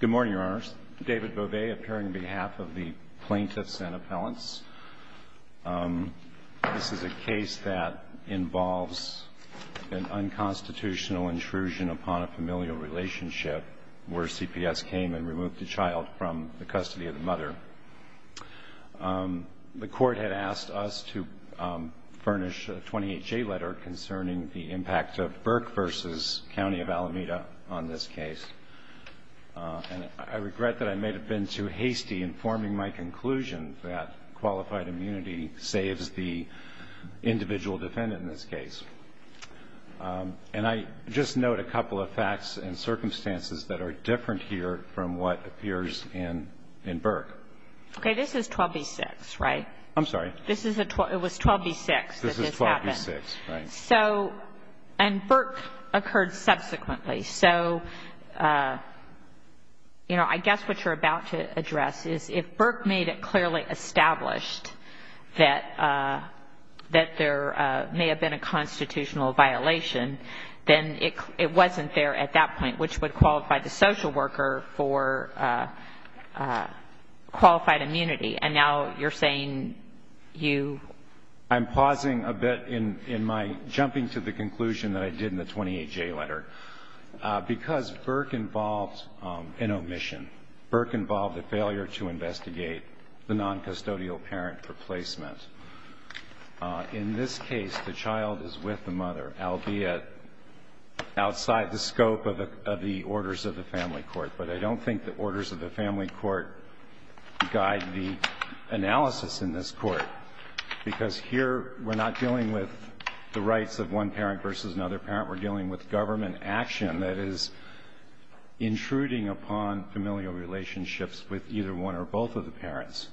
Good morning, Your Honors. David Beauvais appearing on behalf of the Plaintiffs and Appellants. This is a case that involves an unconstitutional intrusion upon a familial relationship where CPS came and removed the child from the custody of the mother. The court had asked us to furnish a 28-J letter concerning the impact of Burke v. County of Alameda on this case. I regret that I may have been too hasty in forming my conclusion that qualified immunity saves the individual defendant in this case. And I just note a couple of facts and circumstances that are different here from what appears in Burke. Okay, this is 12b-6, right? I'm sorry? This is a 12, it was 12b-6 that this happened. This is 12b-6, right. So, and Burke occurred subsequently. So, you know, I guess what you're about to address is if Burke made it clearly established that there may have been a constitutional violation, then it wasn't there at that point, which would qualify the social worker for qualified immunity. And now you're saying you... Because Burke involved an omission. Burke involved a failure to investigate the noncustodial parent replacement. In this case, the child is with the mother, albeit outside the scope of the orders of the family court. But I don't think the orders of the family court guide the analysis in this court, because here we're not dealing with the rights of one parent versus another parent. We're dealing with government action that is intruding upon familial relationships with either one or both of the parents.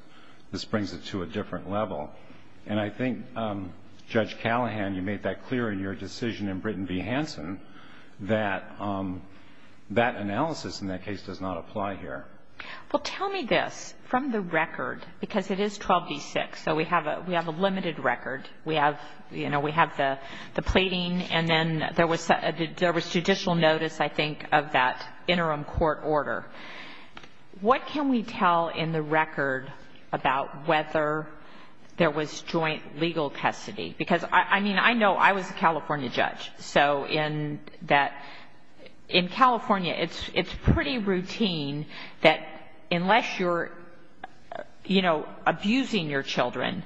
This brings it to a different level. And I think, Judge Callahan, you made that clear in your decision in Britton v. Hansen, that that analysis in that case does not apply here. Well, tell me this, from the record, because it is 12b-6, so we have a limited record. We have, you know, we have the plating, and then there was judicial notice, I think, of that interim court order. What can we tell in the record about whether there was joint legal custody? Because, I mean, I know I was a California judge. So in that, in California, it's pretty routine that unless you're, you know, abusing your children,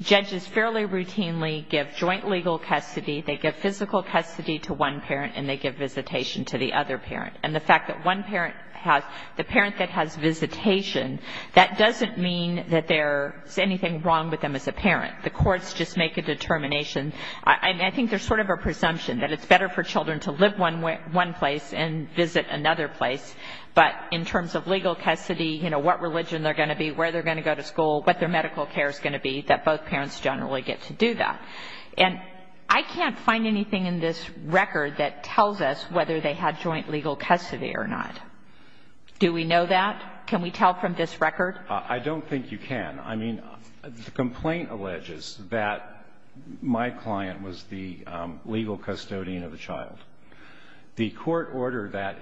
judges fairly routinely give joint legal custody, they give physical custody to one parent, and they give visitation to the other parent. And the fact that one parent has the parent that has visitation, that doesn't mean that there's anything wrong with them as a parent. The courts just make a determination. I think there's sort of a presumption that it's better for children to live one place and visit another place, but in terms of legal custody, you know, what religion they're going to be, where they're going to go to school, what their medical care is going to be, that both parents generally get to do that. And I can't find anything in this record that tells us whether they had joint legal custody or not. Do we know that? Can we tell from this record? I don't think you can. I mean, the complaint alleges that my client was the legal custodian of the child. The court order that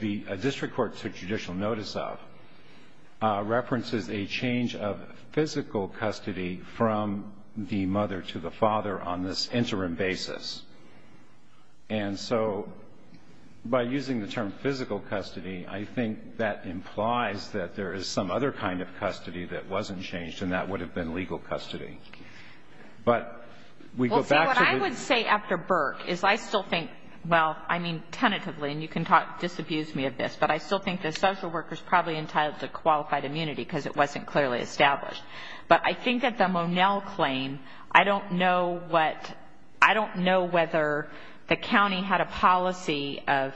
the district court took judicial notice of references a change of physical custody from the mother to the father on this interim basis. And so by using the term physical custody, I think that implies that there is some other kind of custody that wasn't changed, and that would have been legal custody. But we go back to the... Well, see, what I would say after Burke is I still think, well, I mean, tentatively, and you can disabuse me of this, but I still think the social worker's probably entitled to qualified immunity because it wasn't clearly established. But I think that the Monell claim, I don't know what, I don't know whether the county had a policy of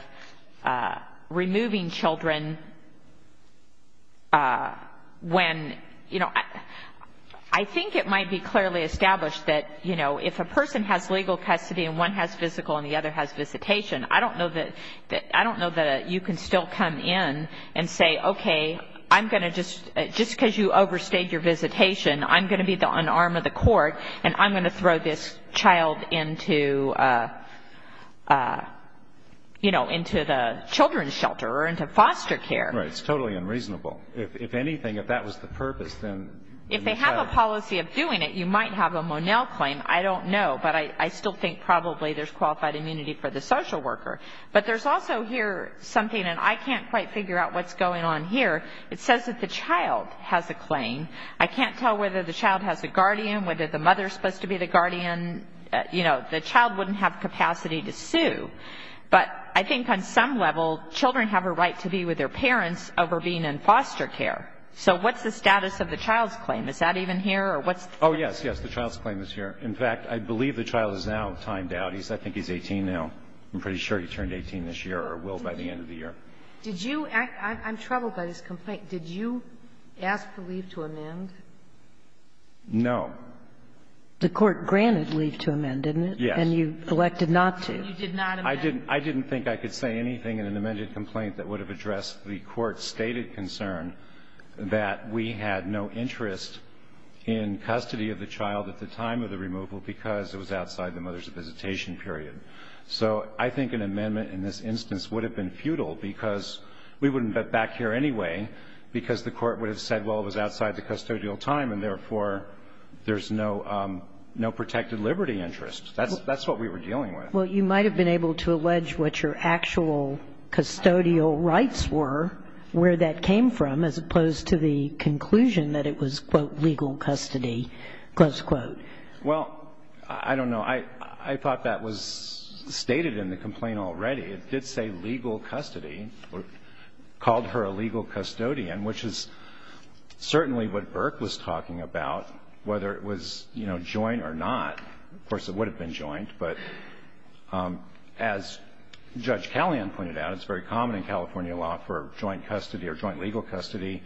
removing children when, you know, I think it might be clearly established that, you know, if a person has legal custody and one has physical and the other has visitation, I don't know that you can still come in and say, okay, I'm going to just, just because you overstayed your visitation, I'm going to be the unarmed of the court, and I'm going to throw this child into, you know, into the children's shelter or into foster care. Right. It's totally unreasonable. If anything, if that was the purpose, then... If they have a policy of doing it, you might have a Monell claim. I don't know. But I still think probably there's qualified immunity for the social worker. But there's also here something, and I can't quite figure out what's going on here. It says that the child has a claim. I can't tell whether the child has a guardian, whether the mother's supposed to be the guardian. You know, the child wouldn't have capacity to sue. But I think on some level, children have a right to be with their parents over being in foster care. So what's the status of the child's claim? Is that even here or what's the status? Oh, yes, yes. The child's claim is here. In fact, I believe the child is now timed out. I think he's 18 now. I'm pretty sure he turned 18 this year or will by the end of the year. Did you act? I'm troubled by this complaint. Did you ask for leave to amend? No. The court granted leave to amend, didn't it? Yes. And you elected not to. You did not amend. I didn't think I could say anything in an amended complaint that would have addressed the Court's stated concern that we had no interest in custody of the child at the time of the removal because it was outside the mother's visitation period. So I think an amendment in this instance would have been futile because we wouldn't get back here anyway because the Court would have said, well, it was outside the custodial time, and therefore, there's no protected liberty interest. That's what we were dealing with. Well, you might have been able to allege what your actual custodial rights were, where that came from, as opposed to the conclusion that it was, quote, legal custody, close quote. Well, I don't know. I thought that was stated in the complaint already. It did say legal custody or called her a legal custodian, which is certainly what Burke was talking about, whether it was, you know, joint or not. Of course, it would have been joint, but as Judge Callahan pointed out, it's very common in California law for joint custody or joint legal custody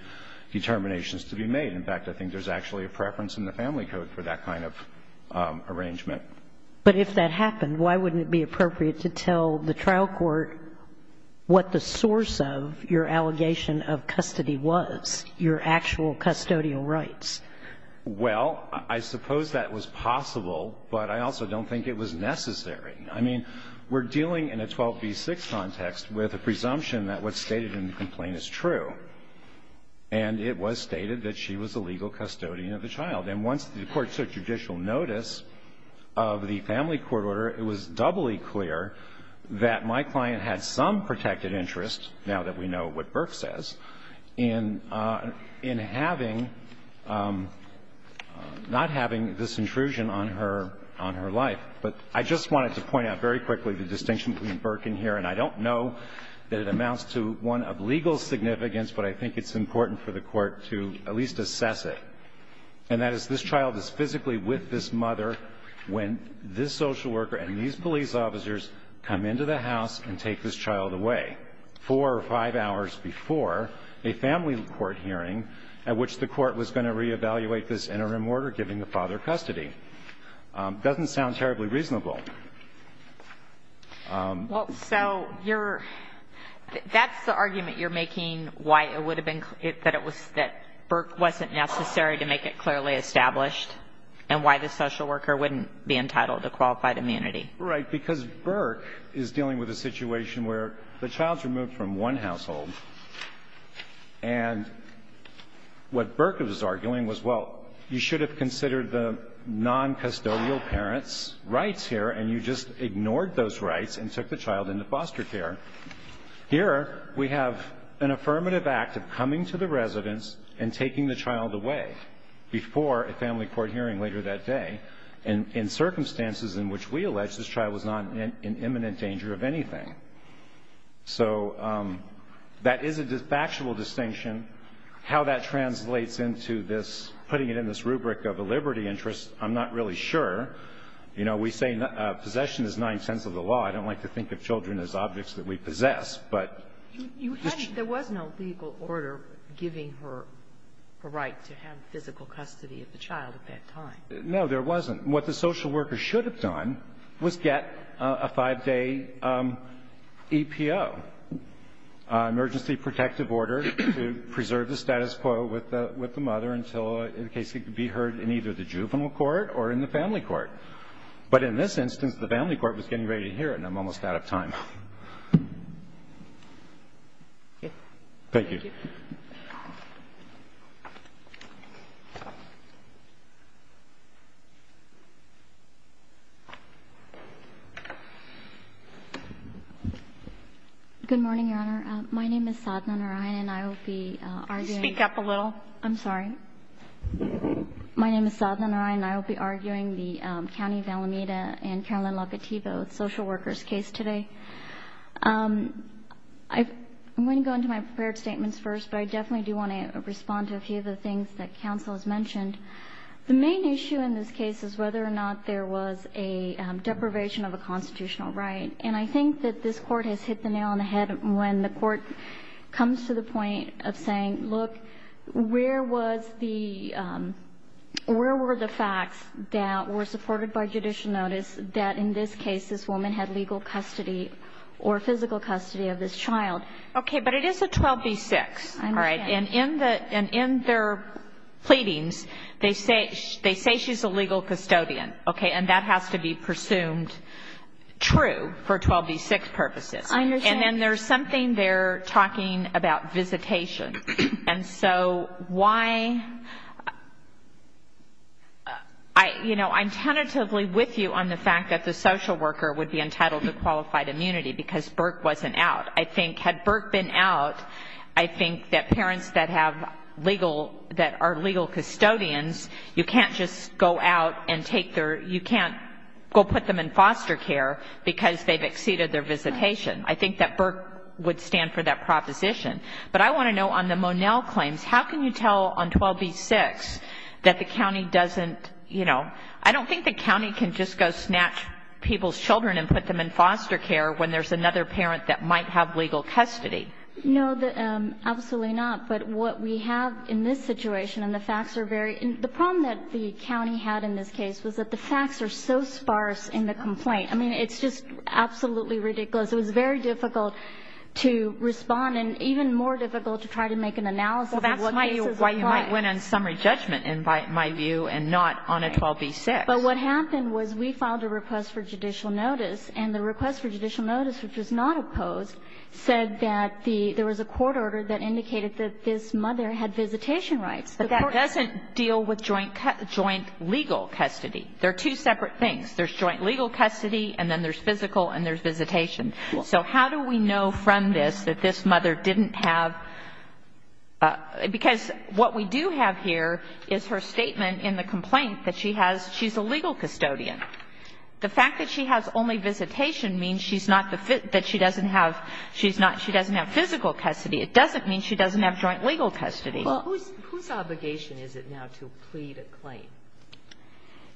determinations to be made. In fact, I think there's actually a preference in the Family Code for that kind of arrangement. But if that happened, why wouldn't it be appropriate to tell the trial court what the source of your allegation of custody was, your actual custodial rights? Well, I suppose that was possible, but I also don't think it was necessary. I mean, we're dealing in a 12b-6 context with a presumption that what's stated in the complaint is true, and it was stated that she was a legal custodian of the child. And once the court took judicial notice of the Family Court order, it was doubly clear that my client had some protected interest, now that we know what Burke says, in having — not having this intrusion on her — on her life. But I just wanted to point out very quickly the distinction between Burke and here, and I don't know that it amounts to one of legal significance, but I think it's important for the Court to at least assess it, and that is this child is physically with this mother when this social worker and these police officers come into the family court hearing at which the court was going to reevaluate this interim order giving the father custody. It doesn't sound terribly reasonable. Well, so you're — that's the argument you're making, why it would have been — that it was — that Burke wasn't necessary to make it clearly established, and why the social worker wouldn't be entitled to qualified immunity. Right, because Burke is dealing with a situation where the child's removed from one household, and what Burke was arguing was, well, you should have considered the noncustodial parents' rights here, and you just ignored those rights and took the child into foster care. Here, we have an affirmative act of coming to the residence and taking the child away before a family court hearing later that day, and in circumstances in which we allege this child was not in imminent danger of anything. So that is a factual distinction. How that translates into this — putting it in this rubric of a liberty interest, I'm not really sure. You know, we say possession is ninth sense of the law. I don't like to think of children as objects that we possess, but — You hadn't — there was no legal order giving her the right to have physical custody of the child at that time. No, there wasn't. What the social worker should have done was get a five-day EPO, emergency protective order, to preserve the status quo with the mother until in case it could be heard in either the juvenile court or in the family court. But in this instance, the family court was getting ready to hear it, and I'm almost out of time. Thank you. Good morning, Your Honor. My name is Sadhana Narayan, and I will be arguing — Speak up a little. I'm sorry. My name is Sadhana Narayan, and I will be arguing the County of Alameda and Caroline Locativo social worker's case today. I'm going to go into my prepared statements first, but I definitely do want to respond to a few of the things that counsel has mentioned. The main issue in this case is whether or not the social worker should have the deprivation of a constitutional right. And I think that this Court has hit the nail on the head when the Court comes to the point of saying, look, where were the facts that were supported by judicial notice that, in this case, this woman had legal custody or physical custody of this child? Okay, but it is a 12b-6. I understand. And in their pleadings, they say she's a legal custodian, okay? And that has to be presumed true for 12b-6 purposes. I understand. And then there's something there talking about visitation. And so why — you know, I'm tentatively with you on the fact that the social worker would be entitled to qualified immunity because Burke wasn't out. I think, had Burke been out, I think that parents that have legal — that are legal custodians, you can't just go out and take their — you can't go put them in foster care because they've exceeded their visitation. I think that Burke would stand for that proposition. But I want to know, on the Monell claims, how can you tell on 12b-6 that the county doesn't, you know — I don't think the county can just go snatch people's children and put them in foster care when there's another parent that might have legal custody. No, absolutely not. But what we have in this situation, and the facts are very — the problem that the county had in this case was that the facts are so sparse in the complaint. I mean, it's just absolutely ridiculous. It was very difficult to respond and even more difficult to try to make an analysis of what cases apply. Well, that's why you might win on summary judgment, in my view, and not on a 12b-6. But what happened was we filed a request for judicial notice, and the request for judicial notice, which was not opposed, said that there was a court order that indicated that this mother had visitation rights. But that doesn't deal with joint legal custody. They're two separate things. There's joint legal custody, and then there's physical, and there's visitation. So how do we know from this that this mother didn't have — because what we do have here is her statement in the complaint that she has — she's a legal custodian. The fact that she has only visitation means she's not the — that she doesn't have — she's not — she doesn't have physical custody. It doesn't mean she doesn't have joint legal custody. Well, whose — whose obligation is it now to plead a claim?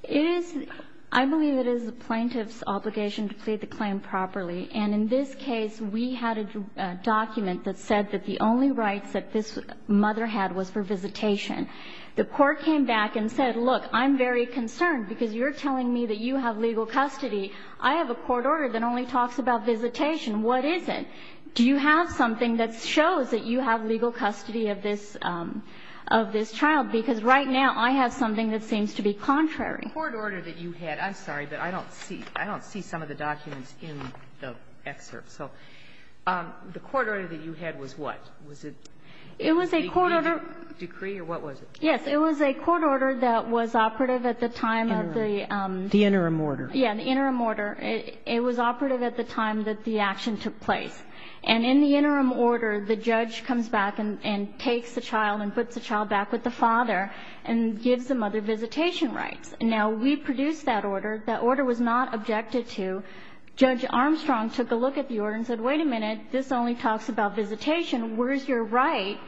It is — I believe it is the plaintiff's obligation to plead the claim properly. And in this case, we had a document that said that the only rights that this mother had was for visitation. The court came back and said, look, I'm very concerned because you're telling me that you have legal custody. I have a court order that only talks about visitation. What is it? Do you have something that shows that you have legal custody of this — of this Because right now, I have something that seems to be contrary. The court order that you had — I'm sorry, but I don't see — I don't see some of the documents in the excerpt. So the court order that you had was what? Was it a decree or what was it? Yes. It was a court order that was operative at the time of the — The interim order. Yeah, the interim order. It was operative at the time that the action took place. And in the interim order, the judge comes back and takes the child and puts the child back with the father and gives the mother visitation rights. Now, we produced that order. That order was not objected to. Judge Armstrong took a look at the order and said, wait a minute. This only talks about visitation. Where is your right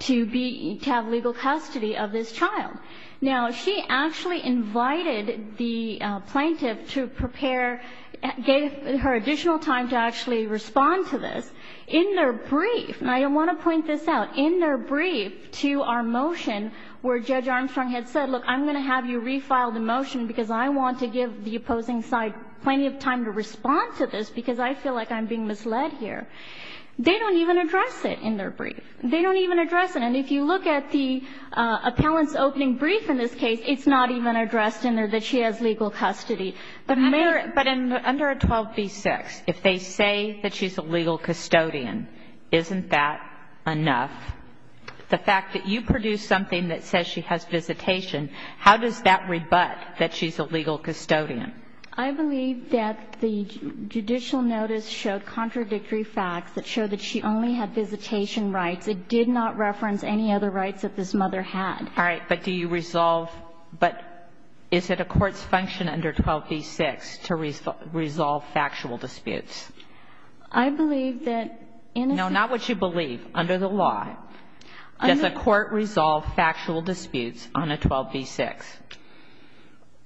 to be — to have legal custody of this child? Now, she actually invited the plaintiff to prepare — gave her additional time to actually respond to this. In their brief — and I want to point this out. In their brief to our motion, where Judge Armstrong had said, look, I'm going to have you refile the motion because I want to give the opposing side plenty of time to respond to this because I feel like I'm being misled here. They don't even address it in their brief. They don't even address it. And if you look at the appellant's opening brief in this case, it's not even addressed in there that she has legal custody. But may I — But under 12b-6, if they say that she's a legal custodian, isn't that enough? The fact that you produced something that says she has visitation, how does that rebut that she's a legal custodian? I believe that the judicial notice showed contradictory facts that show that she only had visitation rights. It did not reference any other rights that this mother had. All right. But do you resolve — but is it a court's function under 12b-6 to resolve factual disputes? I believe that in a — No, not what you believe. Under the law, does a court resolve factual disputes on a 12b-6?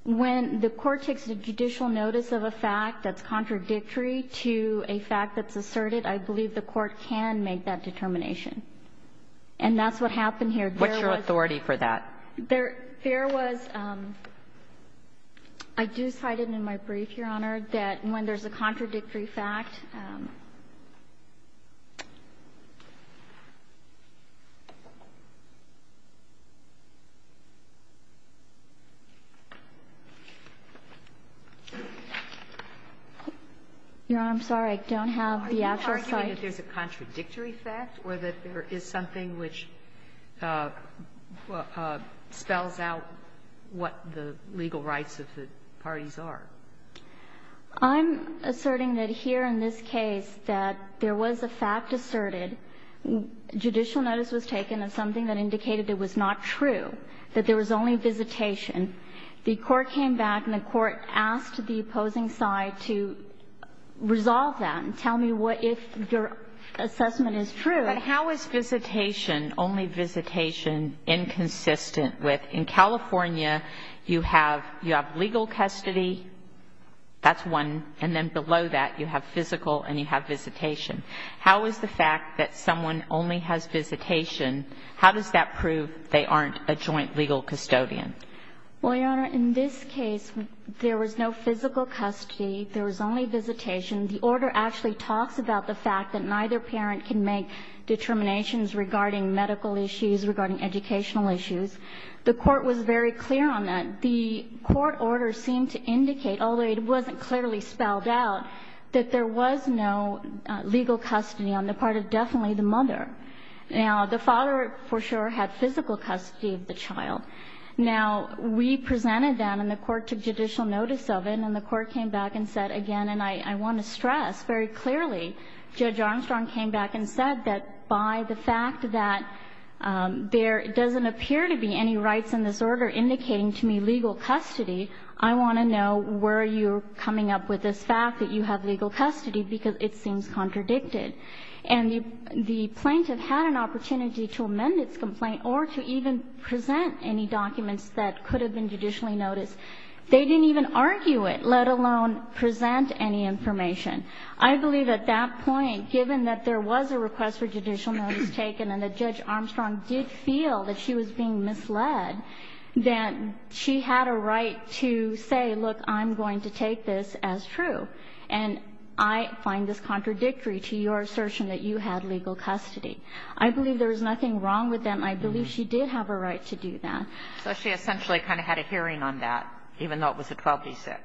When the court takes a judicial notice of a fact that's contradictory to a fact that's asserted, I believe the court can make that determination. And that's what happened here. There was — What's your authority for that? There was — I do cite it in my brief, Your Honor, that when there's a contradictory fact. Your Honor, I'm sorry. I don't have the actual cite. Are you arguing that there's a contradictory fact or that there is something which spells out what the legal rights of the parties are? I'm asserting that here in this case that there was a fact asserted. Judicial notice was taken of something that indicated it was not true, that there was only visitation. The court came back and the court asked the opposing side to resolve that and tell me what — if your assessment is true. But how is visitation, only visitation, inconsistent with — in California, you have — you have legal custody. That's one. And then below that, you have physical and you have visitation. How is the fact that someone only has visitation, how does that prove they aren't a joint legal custodian? Well, Your Honor, in this case, there was no physical custody. There was only visitation. The order actually talks about the fact that neither parent can make determinations regarding medical issues, regarding educational issues. The court was very clear on that. The court order seemed to indicate, although it wasn't clearly spelled out, that there was no legal custody on the part of definitely the mother. Now, the father, for sure, had physical custody of the child. Now, we presented that and the court took judicial notice of it, and the court came back and said again, and I want to stress very clearly, Judge Armstrong came back and said that by the fact that there doesn't appear to be any rights in this order indicating to me legal custody, I want to know where you're coming up with this fact that you have legal custody because it seems contradicted. And the plaintiff had an opportunity to amend its complaint or to even present any documents that could have been judicially noticed. They didn't even argue it, let alone present any information. I believe at that point, given that there was a request for judicial notice taken and that Judge Armstrong did feel that she was being misled, that she had a right to say, look, I'm going to take this as true, and I find this contradictory to your assertion that you had legal custody. I believe there was nothing wrong with them. I believe she did have a right to do that. Kagan. So she essentially kind of had a hearing on that, even though it was a 12-6?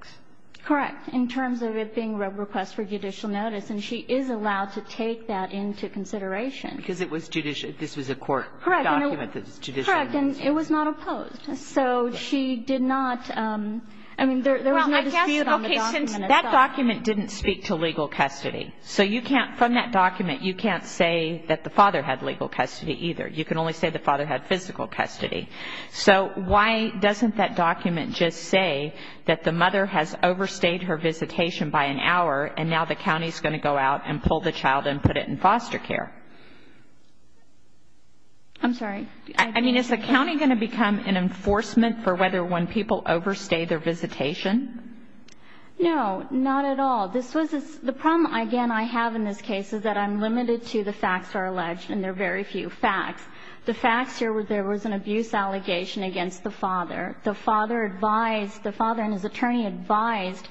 Correct. In terms of it being a request for judicial notice. And she is allowed to take that into consideration. Because it was judicial. This was a court document that was judicial. Correct. And it was not opposed. So she did not – I mean, there was no dispute on the document itself. Well, I guess, okay, since that document didn't speak to legal custody, so you can't – from that document, you can't say that the father had legal custody either. You can only say the father had physical custody. So why doesn't that document just say that the mother has overstayed her visitation by an hour, and now the county is going to go out and pull the child and put it in foster care? I'm sorry. I mean, is the county going to become an enforcement for whether when people overstay their visitation? No, not at all. This was – the problem, again, I have in this case is that I'm limited to the facts that are alleged, and there are very few facts. The facts here were there was an abuse allegation against the father. The father advised – the father and his attorney advised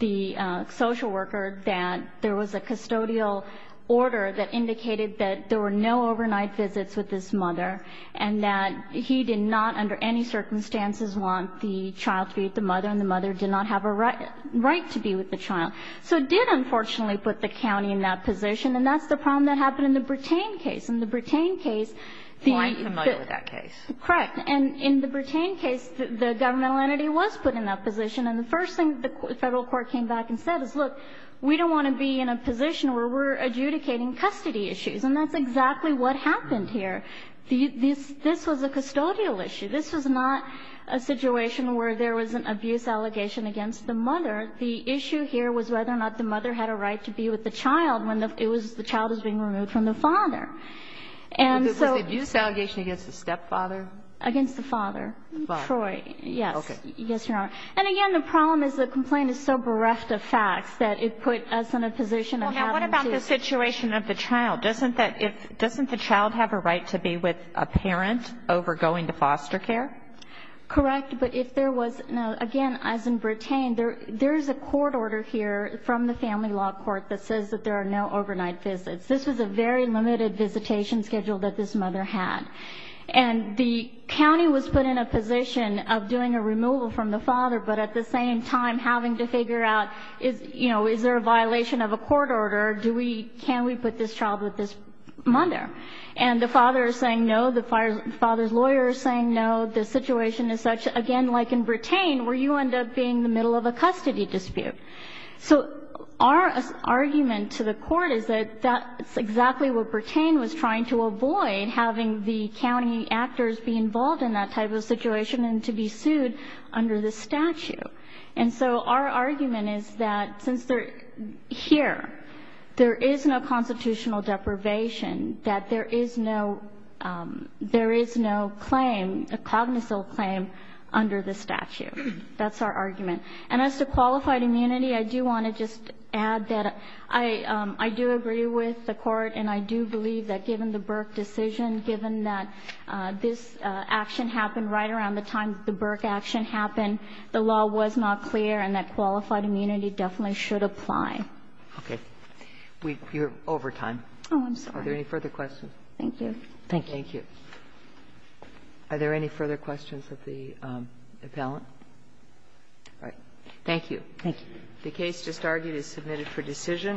the social worker that there was a custodial order that indicated that there were no overnight visits with this mother, and that he did not under any circumstances want the child to be with the mother, and the mother did not have a right to be with the child. So it did, unfortunately, put the county in that position, and that's the problem that happened in the Bertain case. I'm quite familiar with that case. Correct. And in the Bertain case, the governmental entity was put in that position, and the first thing the federal court came back and said is, look, we don't want to be in a position where we're adjudicating custody issues, and that's exactly what happened here. This was a custodial issue. This was not a situation where there was an abuse allegation against the mother. The issue here was whether or not the mother had a right to be with the child when the child was being removed from the father. Was the abuse allegation against the stepfather? Against the father, Troy, yes. Okay. Yes, Your Honor. And, again, the problem is the complaint is so bereft of facts that it put us in a position of having to ---- Well, now, what about the situation of the child? Doesn't the child have a right to be with a parent over going to foster care? Correct, but if there was no ---- again, as in Bertain, there is a court order here from the Family Law Court that says that there are no overnight visits. This was a very limited visitation schedule that this mother had. And the county was put in a position of doing a removal from the father, but at the same time having to figure out, you know, is there a violation of a court order? Can we put this child with this mother? And the father is saying no. The father's lawyer is saying no. The situation is such, again, like in Bertain, where you end up being in the middle of a custody dispute. So our argument to the court is that that's exactly what Bertain was trying to avoid, having the county actors be involved in that type of situation and to be sued under the statute. And so our argument is that since they're here, there is no constitutional deprivation, that there is no claim, a cognizant claim, under the statute. That's our argument. And as to qualified immunity, I do want to just add that I do agree with the Court, and I do believe that given the Burke decision, given that this action happened right around the time the Burke action happened, the law was not clear and that qualified immunity definitely should apply. Okay. You're over time. Oh, I'm sorry. Are there any further questions? Thank you. Thank you. Thank you. Are there any further questions of the appellant? All right. Thank you. Thank you. The case just argued is submitted for decision.